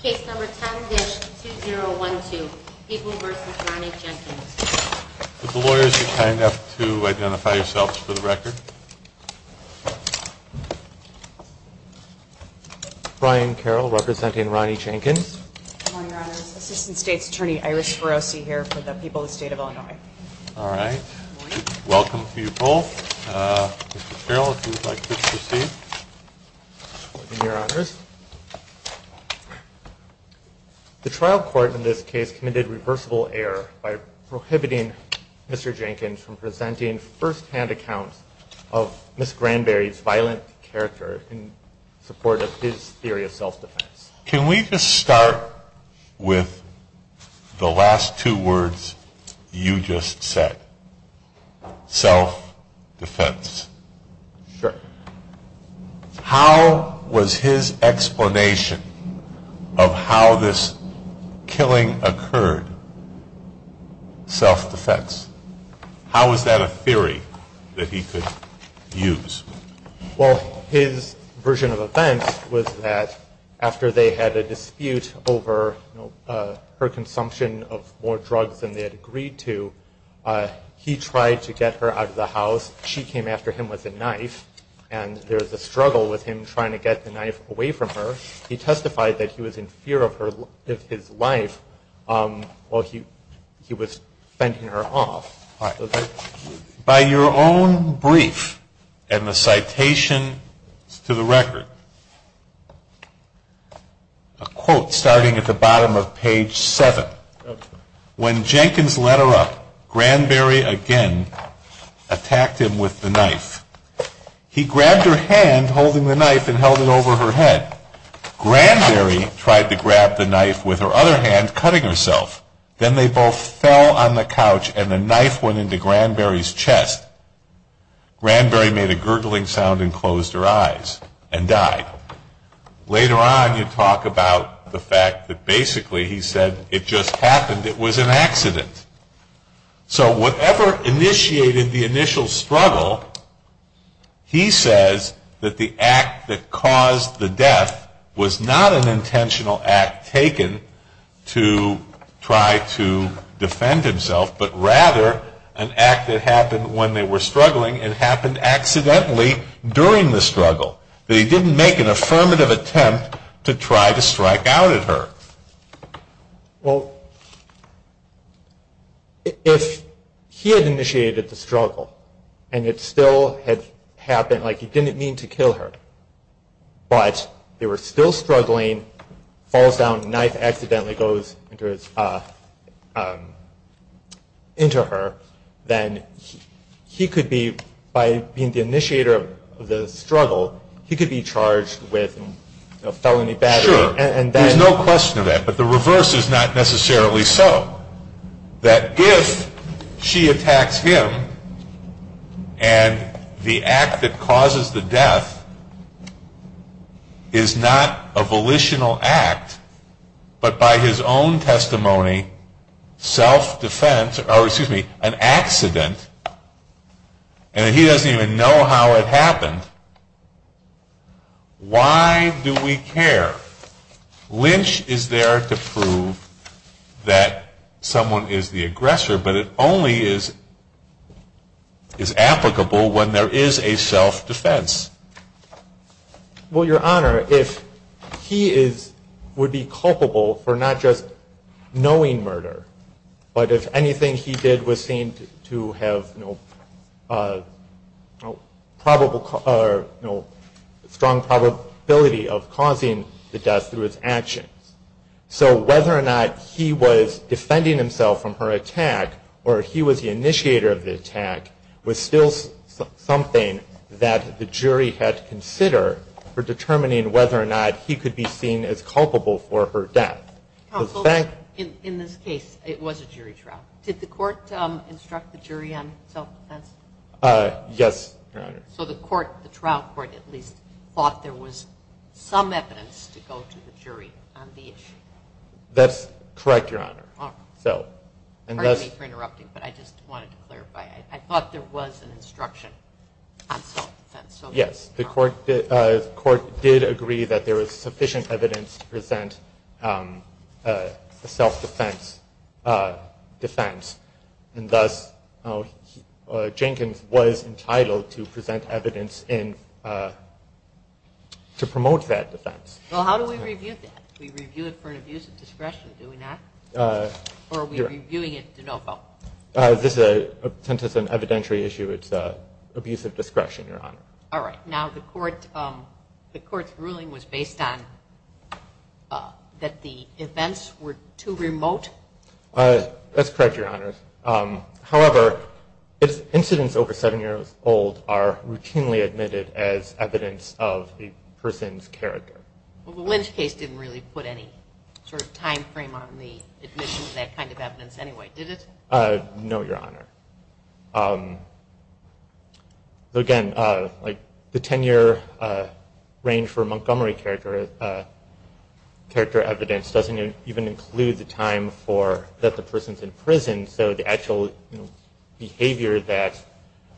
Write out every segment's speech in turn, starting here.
Case number 10-2012, People v. Ronnie Jenkins. Would the lawyers be kind enough to identify yourselves for the record? Brian Carroll, representing Ronnie Jenkins. Good morning, Your Honors. Assistant State's Attorney Iris Ferrosi here for the people of the state of Illinois. All right. Welcome to you both. Mr. Carroll, if you would like to proceed. Good morning, Your Honors. The trial court in this case committed reversible error by prohibiting Mr. Jenkins from presenting first-hand accounts of Ms. Granberry's violent character in support of his theory of self-defense. Can we just start with the last two words you just said? Self-defense. Sure. How was his explanation of how this killing occurred self-defense? How was that a theory that he could use? Well, his version of events was that after they had a dispute over her consumption of more drugs than they had agreed to, he tried to get her out of the house. She came after him with a knife, and there was a struggle with him trying to get the knife away from her. He testified that he was in fear of his life while he was fending her off. All right. By your own brief and the citations to the record, a quote starting at the bottom of page 7. When Jenkins led her up, Granberry again attacked him with the knife. He grabbed her hand, holding the knife, and held it over her head. Granberry tried to grab the knife with her other hand, cutting herself. Then they both fell on the couch, and the knife went into Granberry's chest. Granberry made a gurgling sound and closed her eyes and died. Later on, you talk about the fact that basically he said it just happened. It was an accident. So whatever initiated the initial struggle, he says that the act that caused the death was not an intentional act taken to try to defend himself, but rather an act that happened when they were struggling and happened accidentally during the struggle. That he didn't make an affirmative attempt to try to strike out at her. Well, if he had initiated the struggle and it still had happened, like he didn't mean to kill her, but they were still struggling, falls down, knife accidentally goes into her, then he could be, by being the initiator of the struggle, he could be charged with felony battery. Sure, there's no question of that, but the reverse is not necessarily so. That if she attacks him, and the act that causes the death is not a volitional act, but by his own testimony, self-defense, or excuse me, an accident, and he doesn't even know how it happened, why do we care? Lynch is there to prove that someone is the aggressor, but it only is applicable when there is a self-defense. Well, your honor, if he would be culpable for not just knowing murder, but if anything he did was seen to have strong probability of causing the death through his actions, so whether or not he was defending himself from her attack, or he was the initiator of the attack, was still something that the jury had to consider for determining whether or not he could be seen as culpable for her death. Counsel, in this case, it was a jury trial. Did the court instruct the jury on self-defense? Yes, your honor. So the trial court at least thought there was some evidence to go to the jury on the issue. That's correct, your honor. Pardon me for interrupting, but I just wanted to clarify. I thought there was an instruction on self-defense. Yes, the court did agree that there was sufficient evidence to present a self-defense defense, and thus Jenkins was entitled to present evidence to promote that defense. Well, how do we review that? Do we review it for an abuse of discretion, do we not? Or are we reviewing it de novo? Since it's an evidentiary issue, it's an abuse of discretion, your honor. All right. Now, the court's ruling was based on that the events were too remote? That's correct, your honor. However, incidents over seven years old are routinely admitted as evidence of the person's character. Well, the Lynch case didn't really put any sort of time frame on the admission of that kind of evidence anyway, did it? No, your honor. Again, the ten-year range for Montgomery character evidence doesn't even include the time that the person's in prison, so the actual behavior that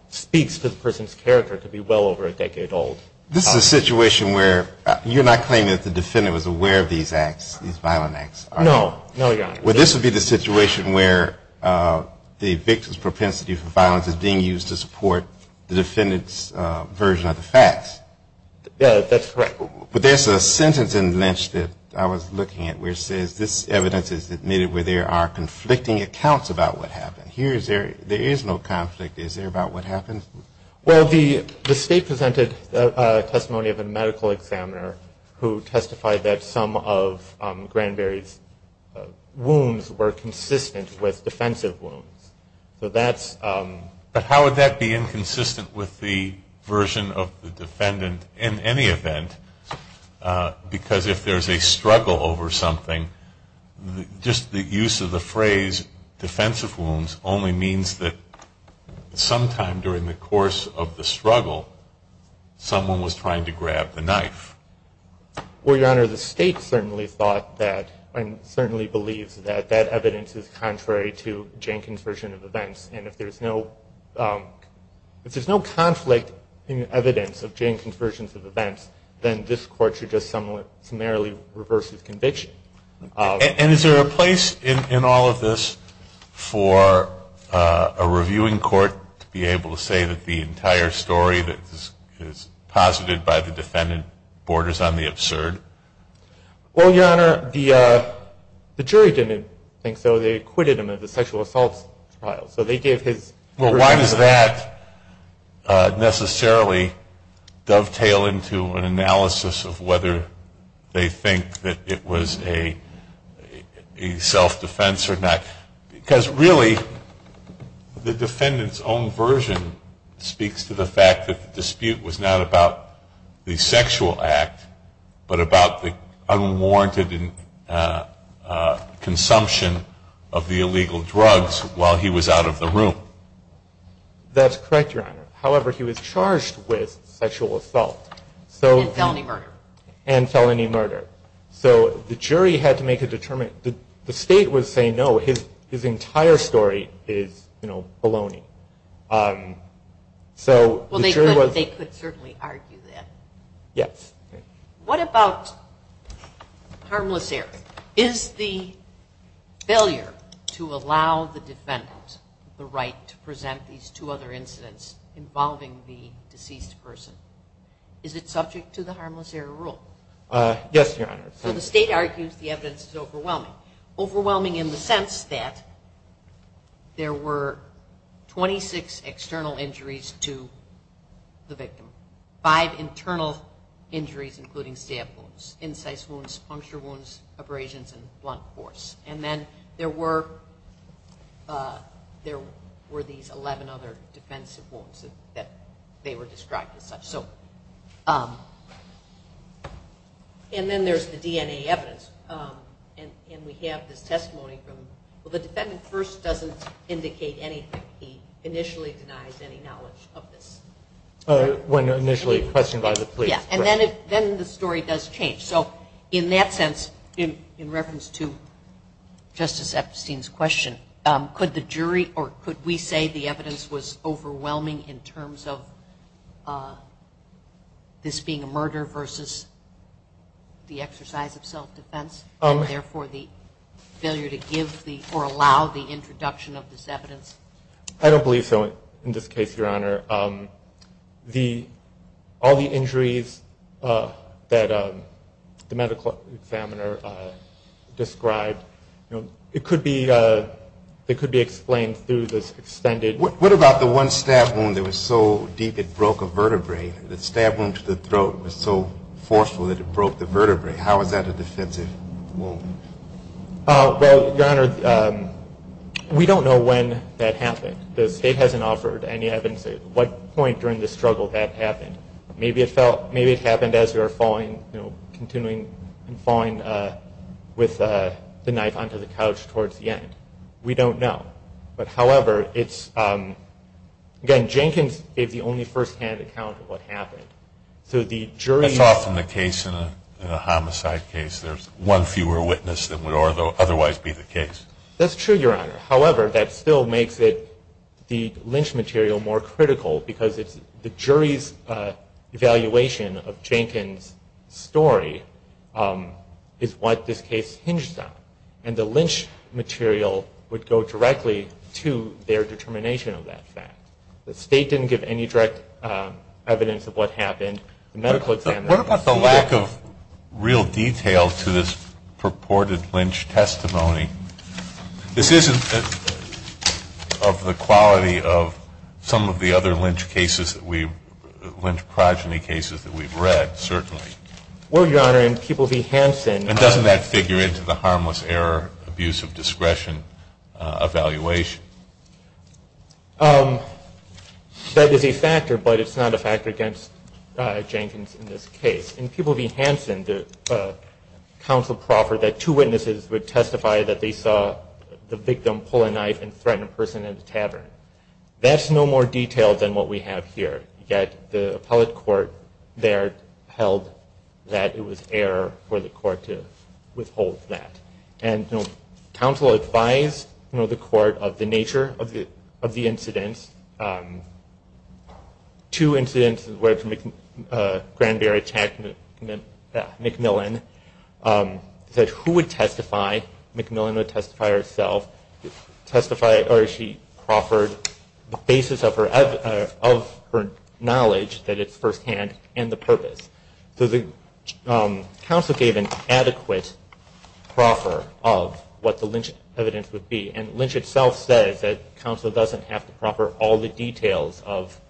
speaks to the person's character could be well over a decade old. This is a situation where you're not claiming that the defendant was aware of these violent acts, are you? No, your honor. Well, this would be the situation where the victim's propensity for violence is being used to support the defendant's version of the facts. Yeah, that's correct. But there's a sentence in Lynch that I was looking at where it says this evidence is admitted where there are conflicting accounts about what happened. Here, there is no conflict. Is there about what happened? Well, the state presented a testimony of a medical examiner who testified that some of Granberry's wounds were consistent with defensive wounds. But how would that be inconsistent with the version of the defendant in any event? Because if there's a struggle over something, just the use of the phrase defensive wounds only means that sometime during the course of the struggle, someone was trying to grab the knife. Well, your honor, the state certainly thought that and certainly believes that that evidence is contrary to Jenkins' version of events. And if there's no conflict in the evidence of Jenkins' version of events, then this court should just summarily reverse his conviction. And is there a place in all of this for a reviewing court to be able to say that the entire story that is posited by the defendant borders on the absurd? Well, your honor, the jury didn't think so. They acquitted him of the sexual assault trial. Well, why does that necessarily dovetail into an analysis of whether they think that it was a self-defense or not? Because really, the defendant's own version speaks to the fact that the dispute was not about the sexual act, but about the unwarranted consumption of the illegal drugs while he was out of the room. That's correct, your honor. However, he was charged with sexual assault. And felony murder. And felony murder. So the jury had to make a determination. The state was saying, no, his entire story is baloney. Well, they could certainly argue that. Yes. What about harmless error? Is the failure to allow the defendant the right to present these two other incidents involving the deceased person, is it subject to the harmless error rule? Yes, your honor. So the state argues the evidence is overwhelming. Overwhelming in the sense that there were 26 external injuries to the victim. Five internal injuries including stab wounds, incise wounds, puncture wounds, abrasions, and blunt force. And then there were these 11 other defensive wounds that they were described as such. And then there's the DNA evidence. And we have this testimony from... Well, the defendant first doesn't indicate anything. He initially denies any knowledge of this. When initially questioned by the police. And then the story does change. So in that sense, in reference to Justice Epstein's question, could the jury or could we say the evidence was overwhelming in terms of this being a murder versus the exercise of self-defense? And therefore the failure to give or allow the introduction of this evidence? I don't believe so in this case, your honor. All the injuries that the medical examiner described, it could be explained through this extended... What about the one stab wound that was so deep it broke a vertebrae? The stab wound to the throat was so forceful that it broke the vertebrae. How is that a defensive wound? Well, your honor, we don't know when that happened. The state hasn't offered any evidence at what point during the struggle that happened. Maybe it happened as we were continuing and falling with the knife onto the couch towards the end. We don't know. But however, it's... Again, Jenkins gave the only first-hand account of what happened. That's often the case in a homicide case. There's one fewer witness than would otherwise be the case. That's true, your honor. However, that still makes the lynch material more critical because the jury's evaluation of Jenkins' story is what this case hinges on. And the lynch material would go directly to their determination of that fact. The state didn't give any direct evidence of what happened. The medical examiner... What about the lack of real detail to this purported lynch testimony? This isn't of the quality of some of the other lynch cases that we... lynch progeny cases that we've read, certainly. Well, your honor, in Peoples v. Hansen... And doesn't that figure into the harmless error abuse of discretion evaluation? That is a factor, but it's not a factor against Jenkins in this case. In Peoples v. Hansen, the counsel proffered that two witnesses would testify that they saw the victim pull a knife and threaten a person in the tavern. That's no more detailed than what we have here. Yet the appellate court there held that it was error for the court to withhold that. And counsel advised the court of the nature of the incident. Two incidents where Granberry attacked McMillan. Who would testify? McMillan would testify herself. She proffered the basis of her knowledge that it's firsthand and the purpose. So the counsel gave an adequate proffer of what the lynch evidence would be. And lynch itself says that counsel doesn't have to proffer all the details of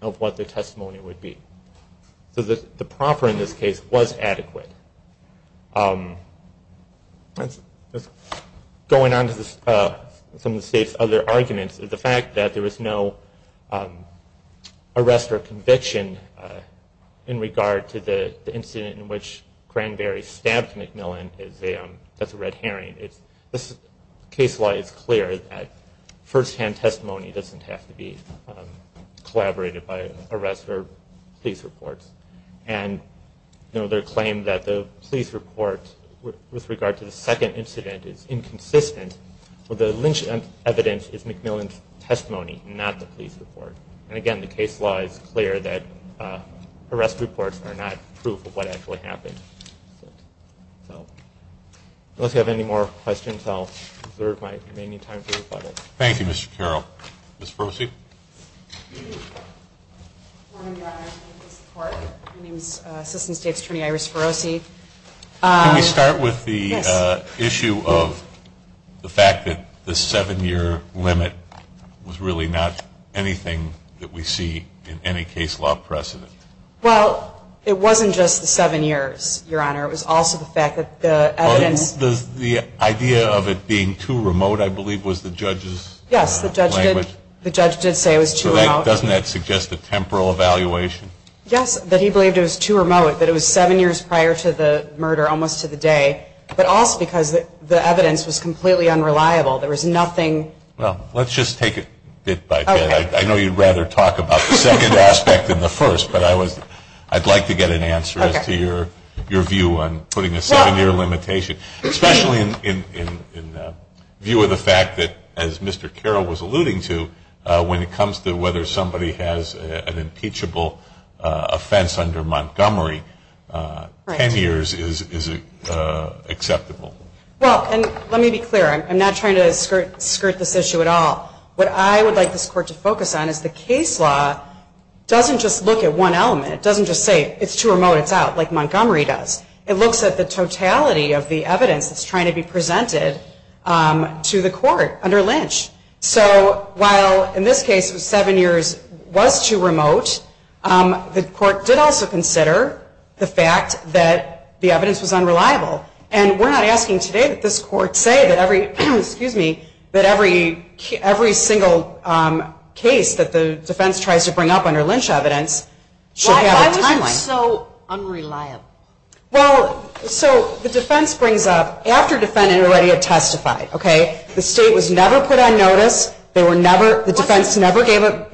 what the testimony would be. So the proffer in this case was adequate. Going on to some of the state's other arguments, the fact that there was no arrest or conviction in regard to the incident in which Granberry stabbed McMillan, that's a red herring. Case law is clear that firsthand testimony doesn't have to be collaborated by arrest or police reports. And their claim that the police report with regard to the second incident is inconsistent with the lynch evidence is McMillan's testimony, not the police report. And again, the case law is clear that arrest reports are not proof of what actually happened. So unless you have any more questions, I'll reserve my remaining time for rebuttal. Thank you, Mr. Carroll. Ms. Ferosi? Good morning, Your Honor. Thank you for the support. My name is Assistant State's Attorney Iris Ferosi. Can we start with the issue of the fact that the seven-year limit was really not anything that we see in any case law precedent? Well, it wasn't just the seven years, Your Honor. It was also the fact that the evidence The idea of it being too remote, I believe, was the judge's language. Yes, the judge did say it was too remote. Doesn't that suggest a temporal evaluation? Yes, that he believed it was too remote, that it was seven years prior to the murder, almost to the day, but also because the evidence was completely unreliable. There was nothing Well, let's just take it bit by bit. I know you'd rather talk about the second aspect than the first, but I'd like to get an answer as to your view on putting a seven-year limitation, especially in view of the fact that, as Mr. Carroll was alluding to, when it comes to whether somebody has an impeachable offense under Montgomery, ten years is acceptable. Well, and let me be clear. I'm not trying to skirt this issue at all. What I would like this Court to focus on is the case law doesn't just look at one element. It doesn't just say, it's too remote, it's out, like Montgomery does. It looks at the totality of the evidence that's trying to be presented to the Court under Lynch. So while, in this case, seven years was too remote, the Court did also consider the fact that the evidence was unreliable. And we're not asking today that this Court say that every, excuse me, that every single case that the defense tries to bring up under Lynch evidence should have a timeline. Why was it so unreliable? Well, so the defense brings up, after a defendant had already testified, okay, the state was never put on notice. The defense never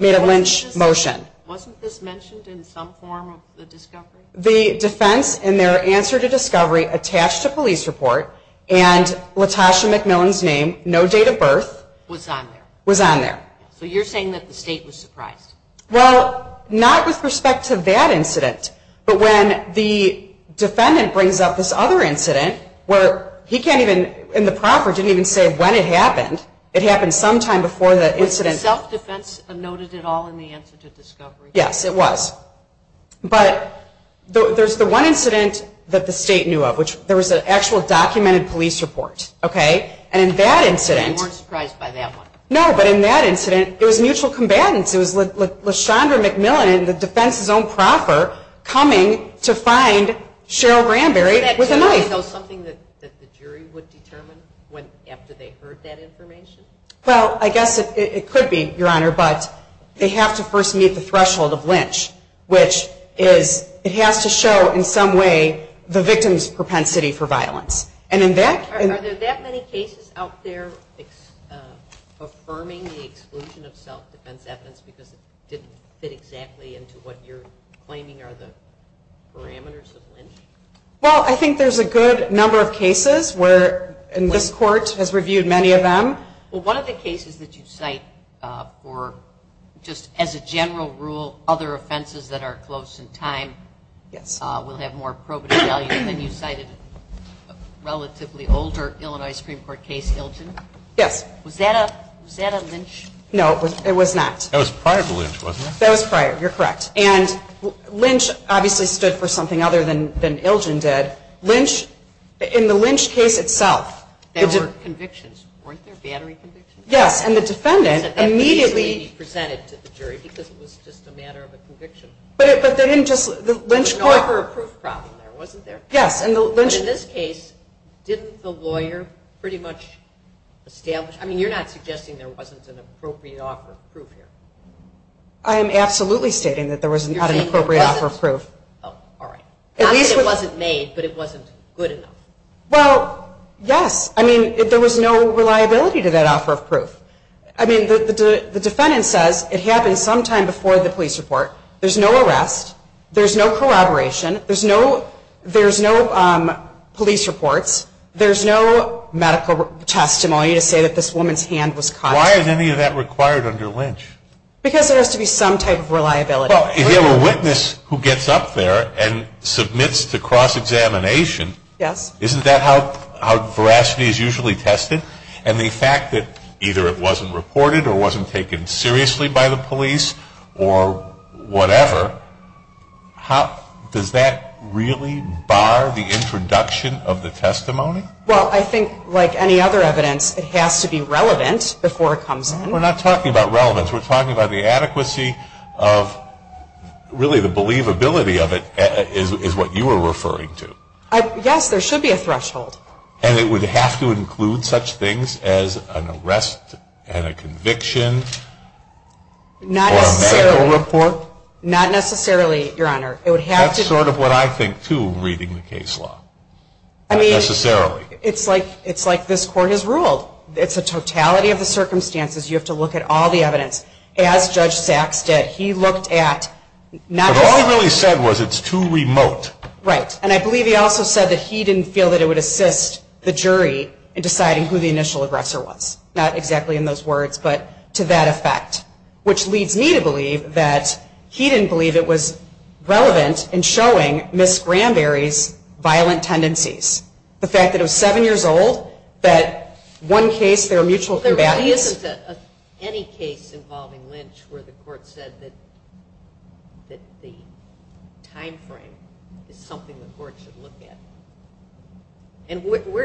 made a Lynch motion. Wasn't this mentioned in some form of the discovery? The defense, in their answer to discovery, attached a police report and Latasha McMillan's name, no date of birth, was on there. So you're saying that the state was surprised? Well, not with respect to that incident, but when the defendant brings up this other incident, where he can't even, and the proffer didn't even say when it happened. It happened sometime before the incident. Was the self-defense noted at all in the answer to discovery? Yes, it was. But there's the one incident that the state knew of, which there was an actual documented police report, okay? And in that incident... So you weren't surprised by that one? No, but in that incident, it was mutual combatants. It was Latasha McMillan and the defense's own proffer coming to find Cheryl Granberry with a knife. Is that something that the jury would determine after they heard that information? Well, I guess it could be, Your Honor, but they have to first meet the threshold of lynch, which is, it has to show in some way the victim's propensity for violence. And in that... Are there that many cases out there affirming the exclusion of self-defense evidence because it didn't fit exactly into what you're claiming are the parameters of lynch? Well, I think there's a good number of cases where, and this Court has reviewed many of them. Well, one of the cases that you cite for just, as a general rule, other offenses that are close in time... Yes. ...will have more probative value than you cited a relatively older Illinois Supreme Court case, Ilgin. Yes. Was that a lynch? No, it was not. That was prior to lynch, wasn't it? That was prior, you're correct. And lynch obviously stood for something other than Ilgin did. In the lynch case itself... There were convictions. Weren't there battery convictions? Yes, and the defendant immediately... You said that needs to be presented to the jury because it was just a matter of a conviction. But they didn't just... There was an offer of proof problem there, wasn't there? Yes, and the lynch... But in this case, didn't the lawyer pretty much establish... I mean, you're not suggesting or absolutely stating that there was not an appropriate offer of proof. Oh, all right. Not that it wasn't made, but it wasn't good enough. Well, yes. I mean, there was no reliability to that offer of proof. I mean, the defendant says it happened sometime before the police report. There's no arrest. There's no corroboration. There's no police reports. There's no medical testimony to say that this woman's hand was caught. There's no type of reliability. Well, if you have a witness who gets up there and submits to cross-examination, isn't that how veracity is usually tested? And the fact that either it wasn't reported or wasn't taken seriously by the police or whatever, does that really bar the introduction of the testimony? Well, I think like any other evidence, it has to be relevant before it comes in. We're not talking about relevance. We're talking about the adequacy of really the believability of it is what you were referring to. Yes, there should be a threshold. And it would have to include such things as an arrest and a conviction or a medical report? Not necessarily, Your Honor. That's sort of what I think, too, reading the case law. Not necessarily. It's like this Court has ruled. It's a totality of the circumstances. You have to look at all the evidence. As Judge Sachs did, he looked at not just... But all he really said was it's too remote. Right. And I believe he also said that he didn't feel that it would assist the jury in deciding who the initial aggressor was. Not exactly in those words, but to that effect, which leads me to believe that he didn't believe it was relevant in showing Ms. Granberry's violent tendencies. In one case, there are mutual combats. There really isn't any case involving Lynch where the Court said that the time frame is something the Court should look at.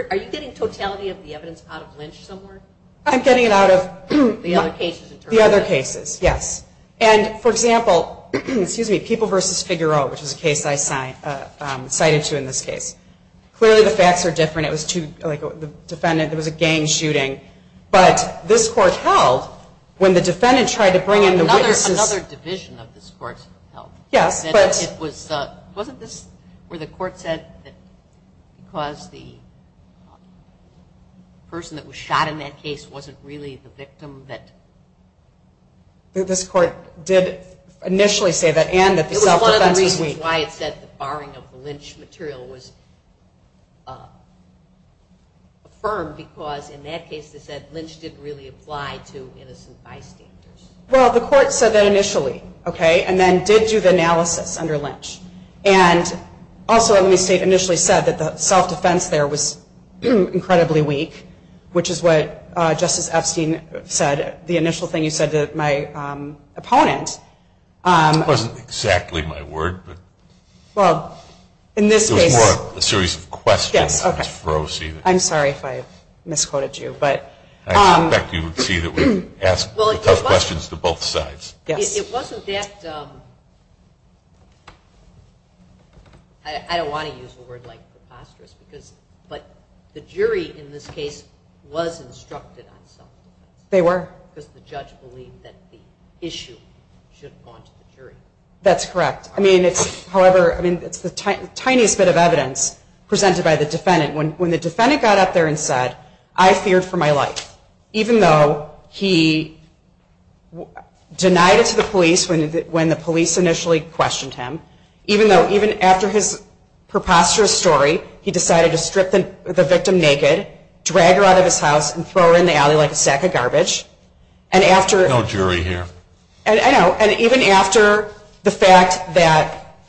Are you getting totality of the evidence out of Lynch somewhere? I'm getting it out of... The other cases in terms of Lynch? The other cases, yes. And, for example, People v. Figueroa, which is a case I cited to in this case. Clearly the facts are different. I'm not judging. But this Court held when the defendant tried to bring in the witnesses... Another division of this Court held. Yes, but... Wasn't this where the Court said that because the person that was shot in that case wasn't really the victim that... This Court did initially say that and that the self-defense was weak. It was one of the reasons why it said the barring of Lynch material was affirmed because in that case it said Lynch didn't really apply to innocent bystanders. Well, the Court said that initially, and then did do the analysis under Lynch. And also, the state initially said that the self-defense there was incredibly weak, which is what Justice Epstein said. The initial thing you said to my opponent... It wasn't exactly my word. Well, in this case... It was more a series of questions. I misquoted you, but... I expect you would see that we've asked tough questions to both sides. Yes. It wasn't that... I don't want to use a word like preposterous, but the jury in this case was instructed on self-defense. They were. Because the judge believed that the issue should have gone to the jury. That's correct. However, it's the tiniest bit of evidence presented by the defendant. When the defendant got up there and said, I feared for my life, even though he denied it to the police when the police initially questioned him. Even after his preposterous story, he decided to strip the victim naked, drag her out of his house, and throw her in the alley like a sack of garbage.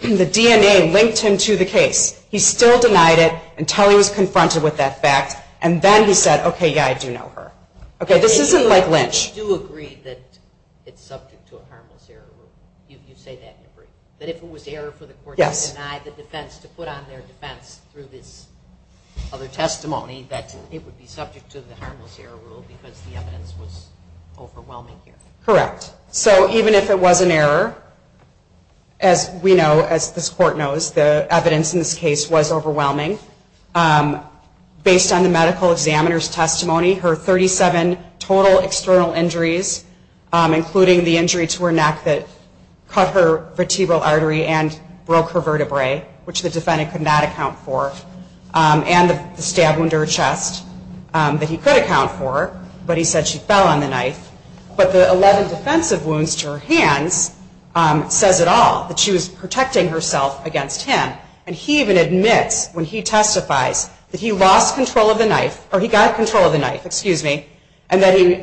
The DNA linked him to the case. He still denied it until he was confronted with that fact, and then he said, okay, yeah, I do know her. This isn't like Lynch. You do agree that it's subject to a harmless error rule. You say that in your brief. That if it was error for the court to deny the defense, to put on their defense through this other testimony, that it would be subject So, as we know, as this court knows, the evidence in this case was overwhelming. Based on the medical examiner's testimony, her 37 total external injuries, including the injury to her neck that cut her vertebral artery and broke her vertebrae, which the defendant could not account for, and the stab wound to her chest that was protecting herself against him, and he even admits when he testifies that he lost control of the knife, or he got control of the knife, excuse me, and that he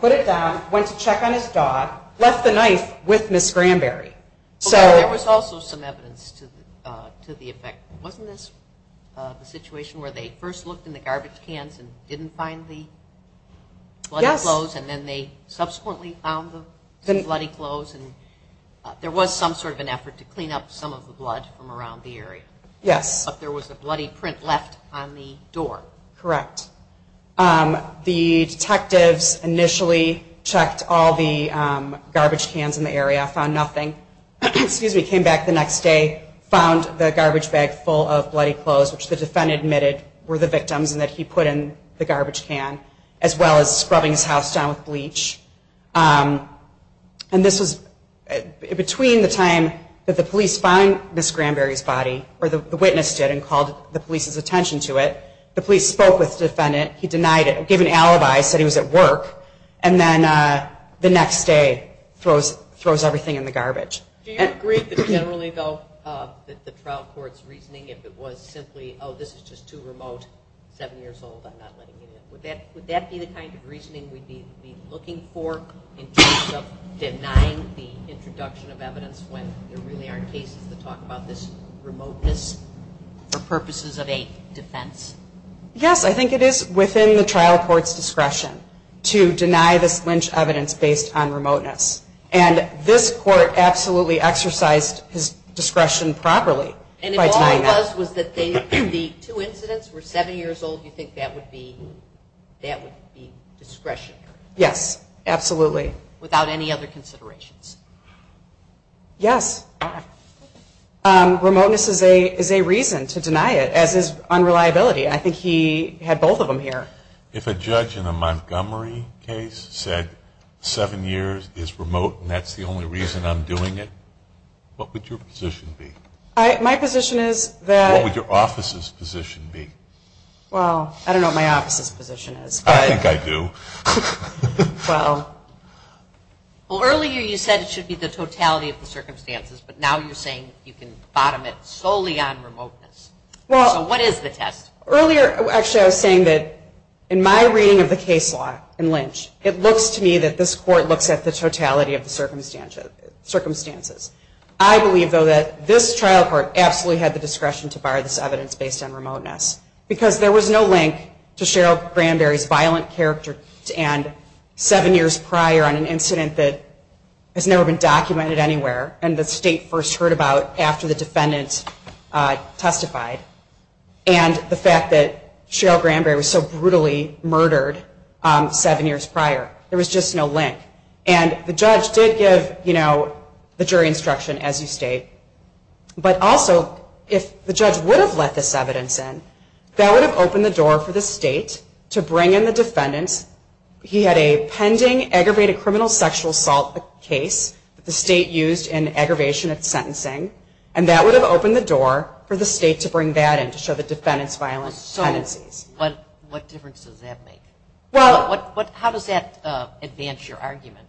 put it down, went to check on his dog, left the knife with Ms. Granberry. There was also some evidence to the effect, wasn't this the situation where they first looked in the garbage cans to clean up some of the blood from around the area? Yes. But there was a bloody print left on the door. Correct. The detectives initially checked all the garbage cans in the area, found nothing, came back the next day, found the garbage bag full of bloody clothes, which the defendant admitted were the victims and the police found Ms. Granberry's body, or the witness did, and called the police's attention to it. The police spoke with the defendant, he denied it, gave an alibi, said he was at work, and then the next day throws everything in the garbage. Do you agree that generally though that the trial court's reasoning if it was simply oh this is just too remote, seven years old, I'm not letting you in, would that be the kind of reasoning we'd be looking for in terms of denying the introduction of evidence when there really aren't cases to talk about this remoteness for purposes of a defense? Yes, I think it is within the trial court's discretion to deny this lynch evidence based on remoteness. And this court absolutely So if you're seven years old you think that would be discretionary? Yes, absolutely. Without any other considerations? Yes. Remoteness is a reason to deny it as is unreliability. I think he had both of them here. If a judge in a Montgomery case said seven years is remote and that's the only reason I'm doing it, what would your position be? My position is that What would your office's position be? Well, I don't know what my office's position is. I think I do. Well. Well earlier you said it should be the totality of the circumstances, but now you're saying you can bottom it solely on remoteness. So what is the test? Well, earlier actually I was saying that in my reading of the case law in Lynch, it looks to me that this court looks at the totality of the circumstances. I believe, though, that this trial court absolutely had the discretion to bar this evidence based on remoteness because there was no link to Cheryl Granberry's violent character and seven years prior on an incident that has never been documented anywhere and the state first heard about after the defendant testified and the fact that Cheryl Granberry was so brutally murdered seven years prior. There was just no link. And the judge did give, you know, the jury instruction as you state, but also if the judge would have let this evidence in, that would have opened the door for the state to bring in the defendants. He had a pending aggravated criminal sexual assault case that the state used in aggravation of sentencing and that would have opened the door for the state to bring that in to show the defendants' violent tendencies. What difference does that make? How does that advance your argument?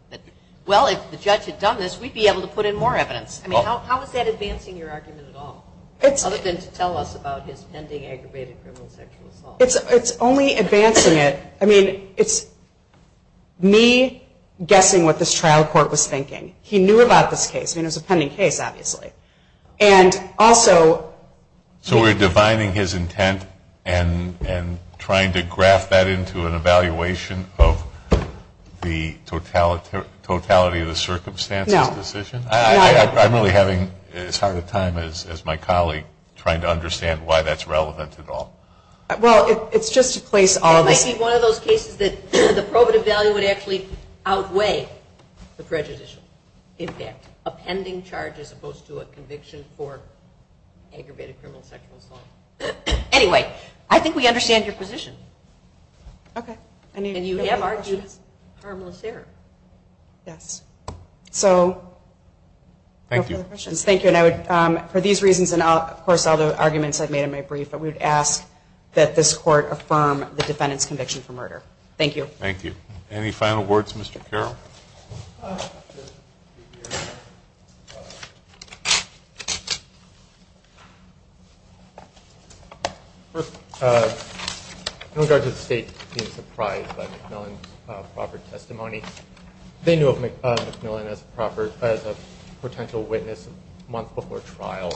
Well, if the judge had done this, we'd be able to put in more evidence. I mean, how is that advancing your argument at all? Other than to tell us about his pending aggravated criminal sexual assault. It's only advancing it. I mean, it's me guessing what this trial court was thinking. He knew about this case. I mean, it was a pending case obviously. And, also... So, we're divining his intent and trying to graph that into an evaluation of the totality of the circumstances decision? No. I'm really having as hard a time as my colleague trying to understand why that's relevant at all. Well, it's just to place all of the questions that I have not going to answer all of them. I'm not going to answer all of them. I'm not going to answer all of them. No. I'm not going to answer all of them. Thank you. Okay. Any final words Mr. Carroll? In regards to the state being surprised by Macmillan's lack of proper testimony. They knew of Macmillan as a potential witness a month before trial.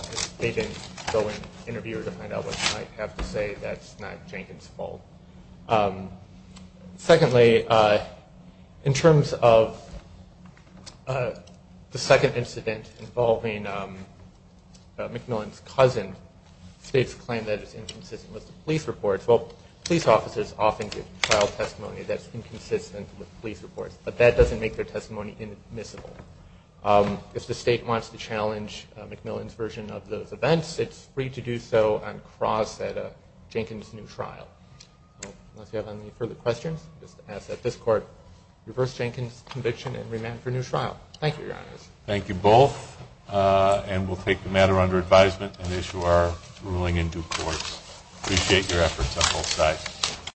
Secondly, in terms of the second incident involving Macmillan's cousin, the state's claim that it's inconsistent with the police report, that doesn't make their testimony admissible. If the state wants to challenge Macmillan's version of those events, it's free to do so on cross at a Jenkins new trial. Unless you have any further questions, just ask that this court reverse Jenkins conviction and remand for new evidence. Thank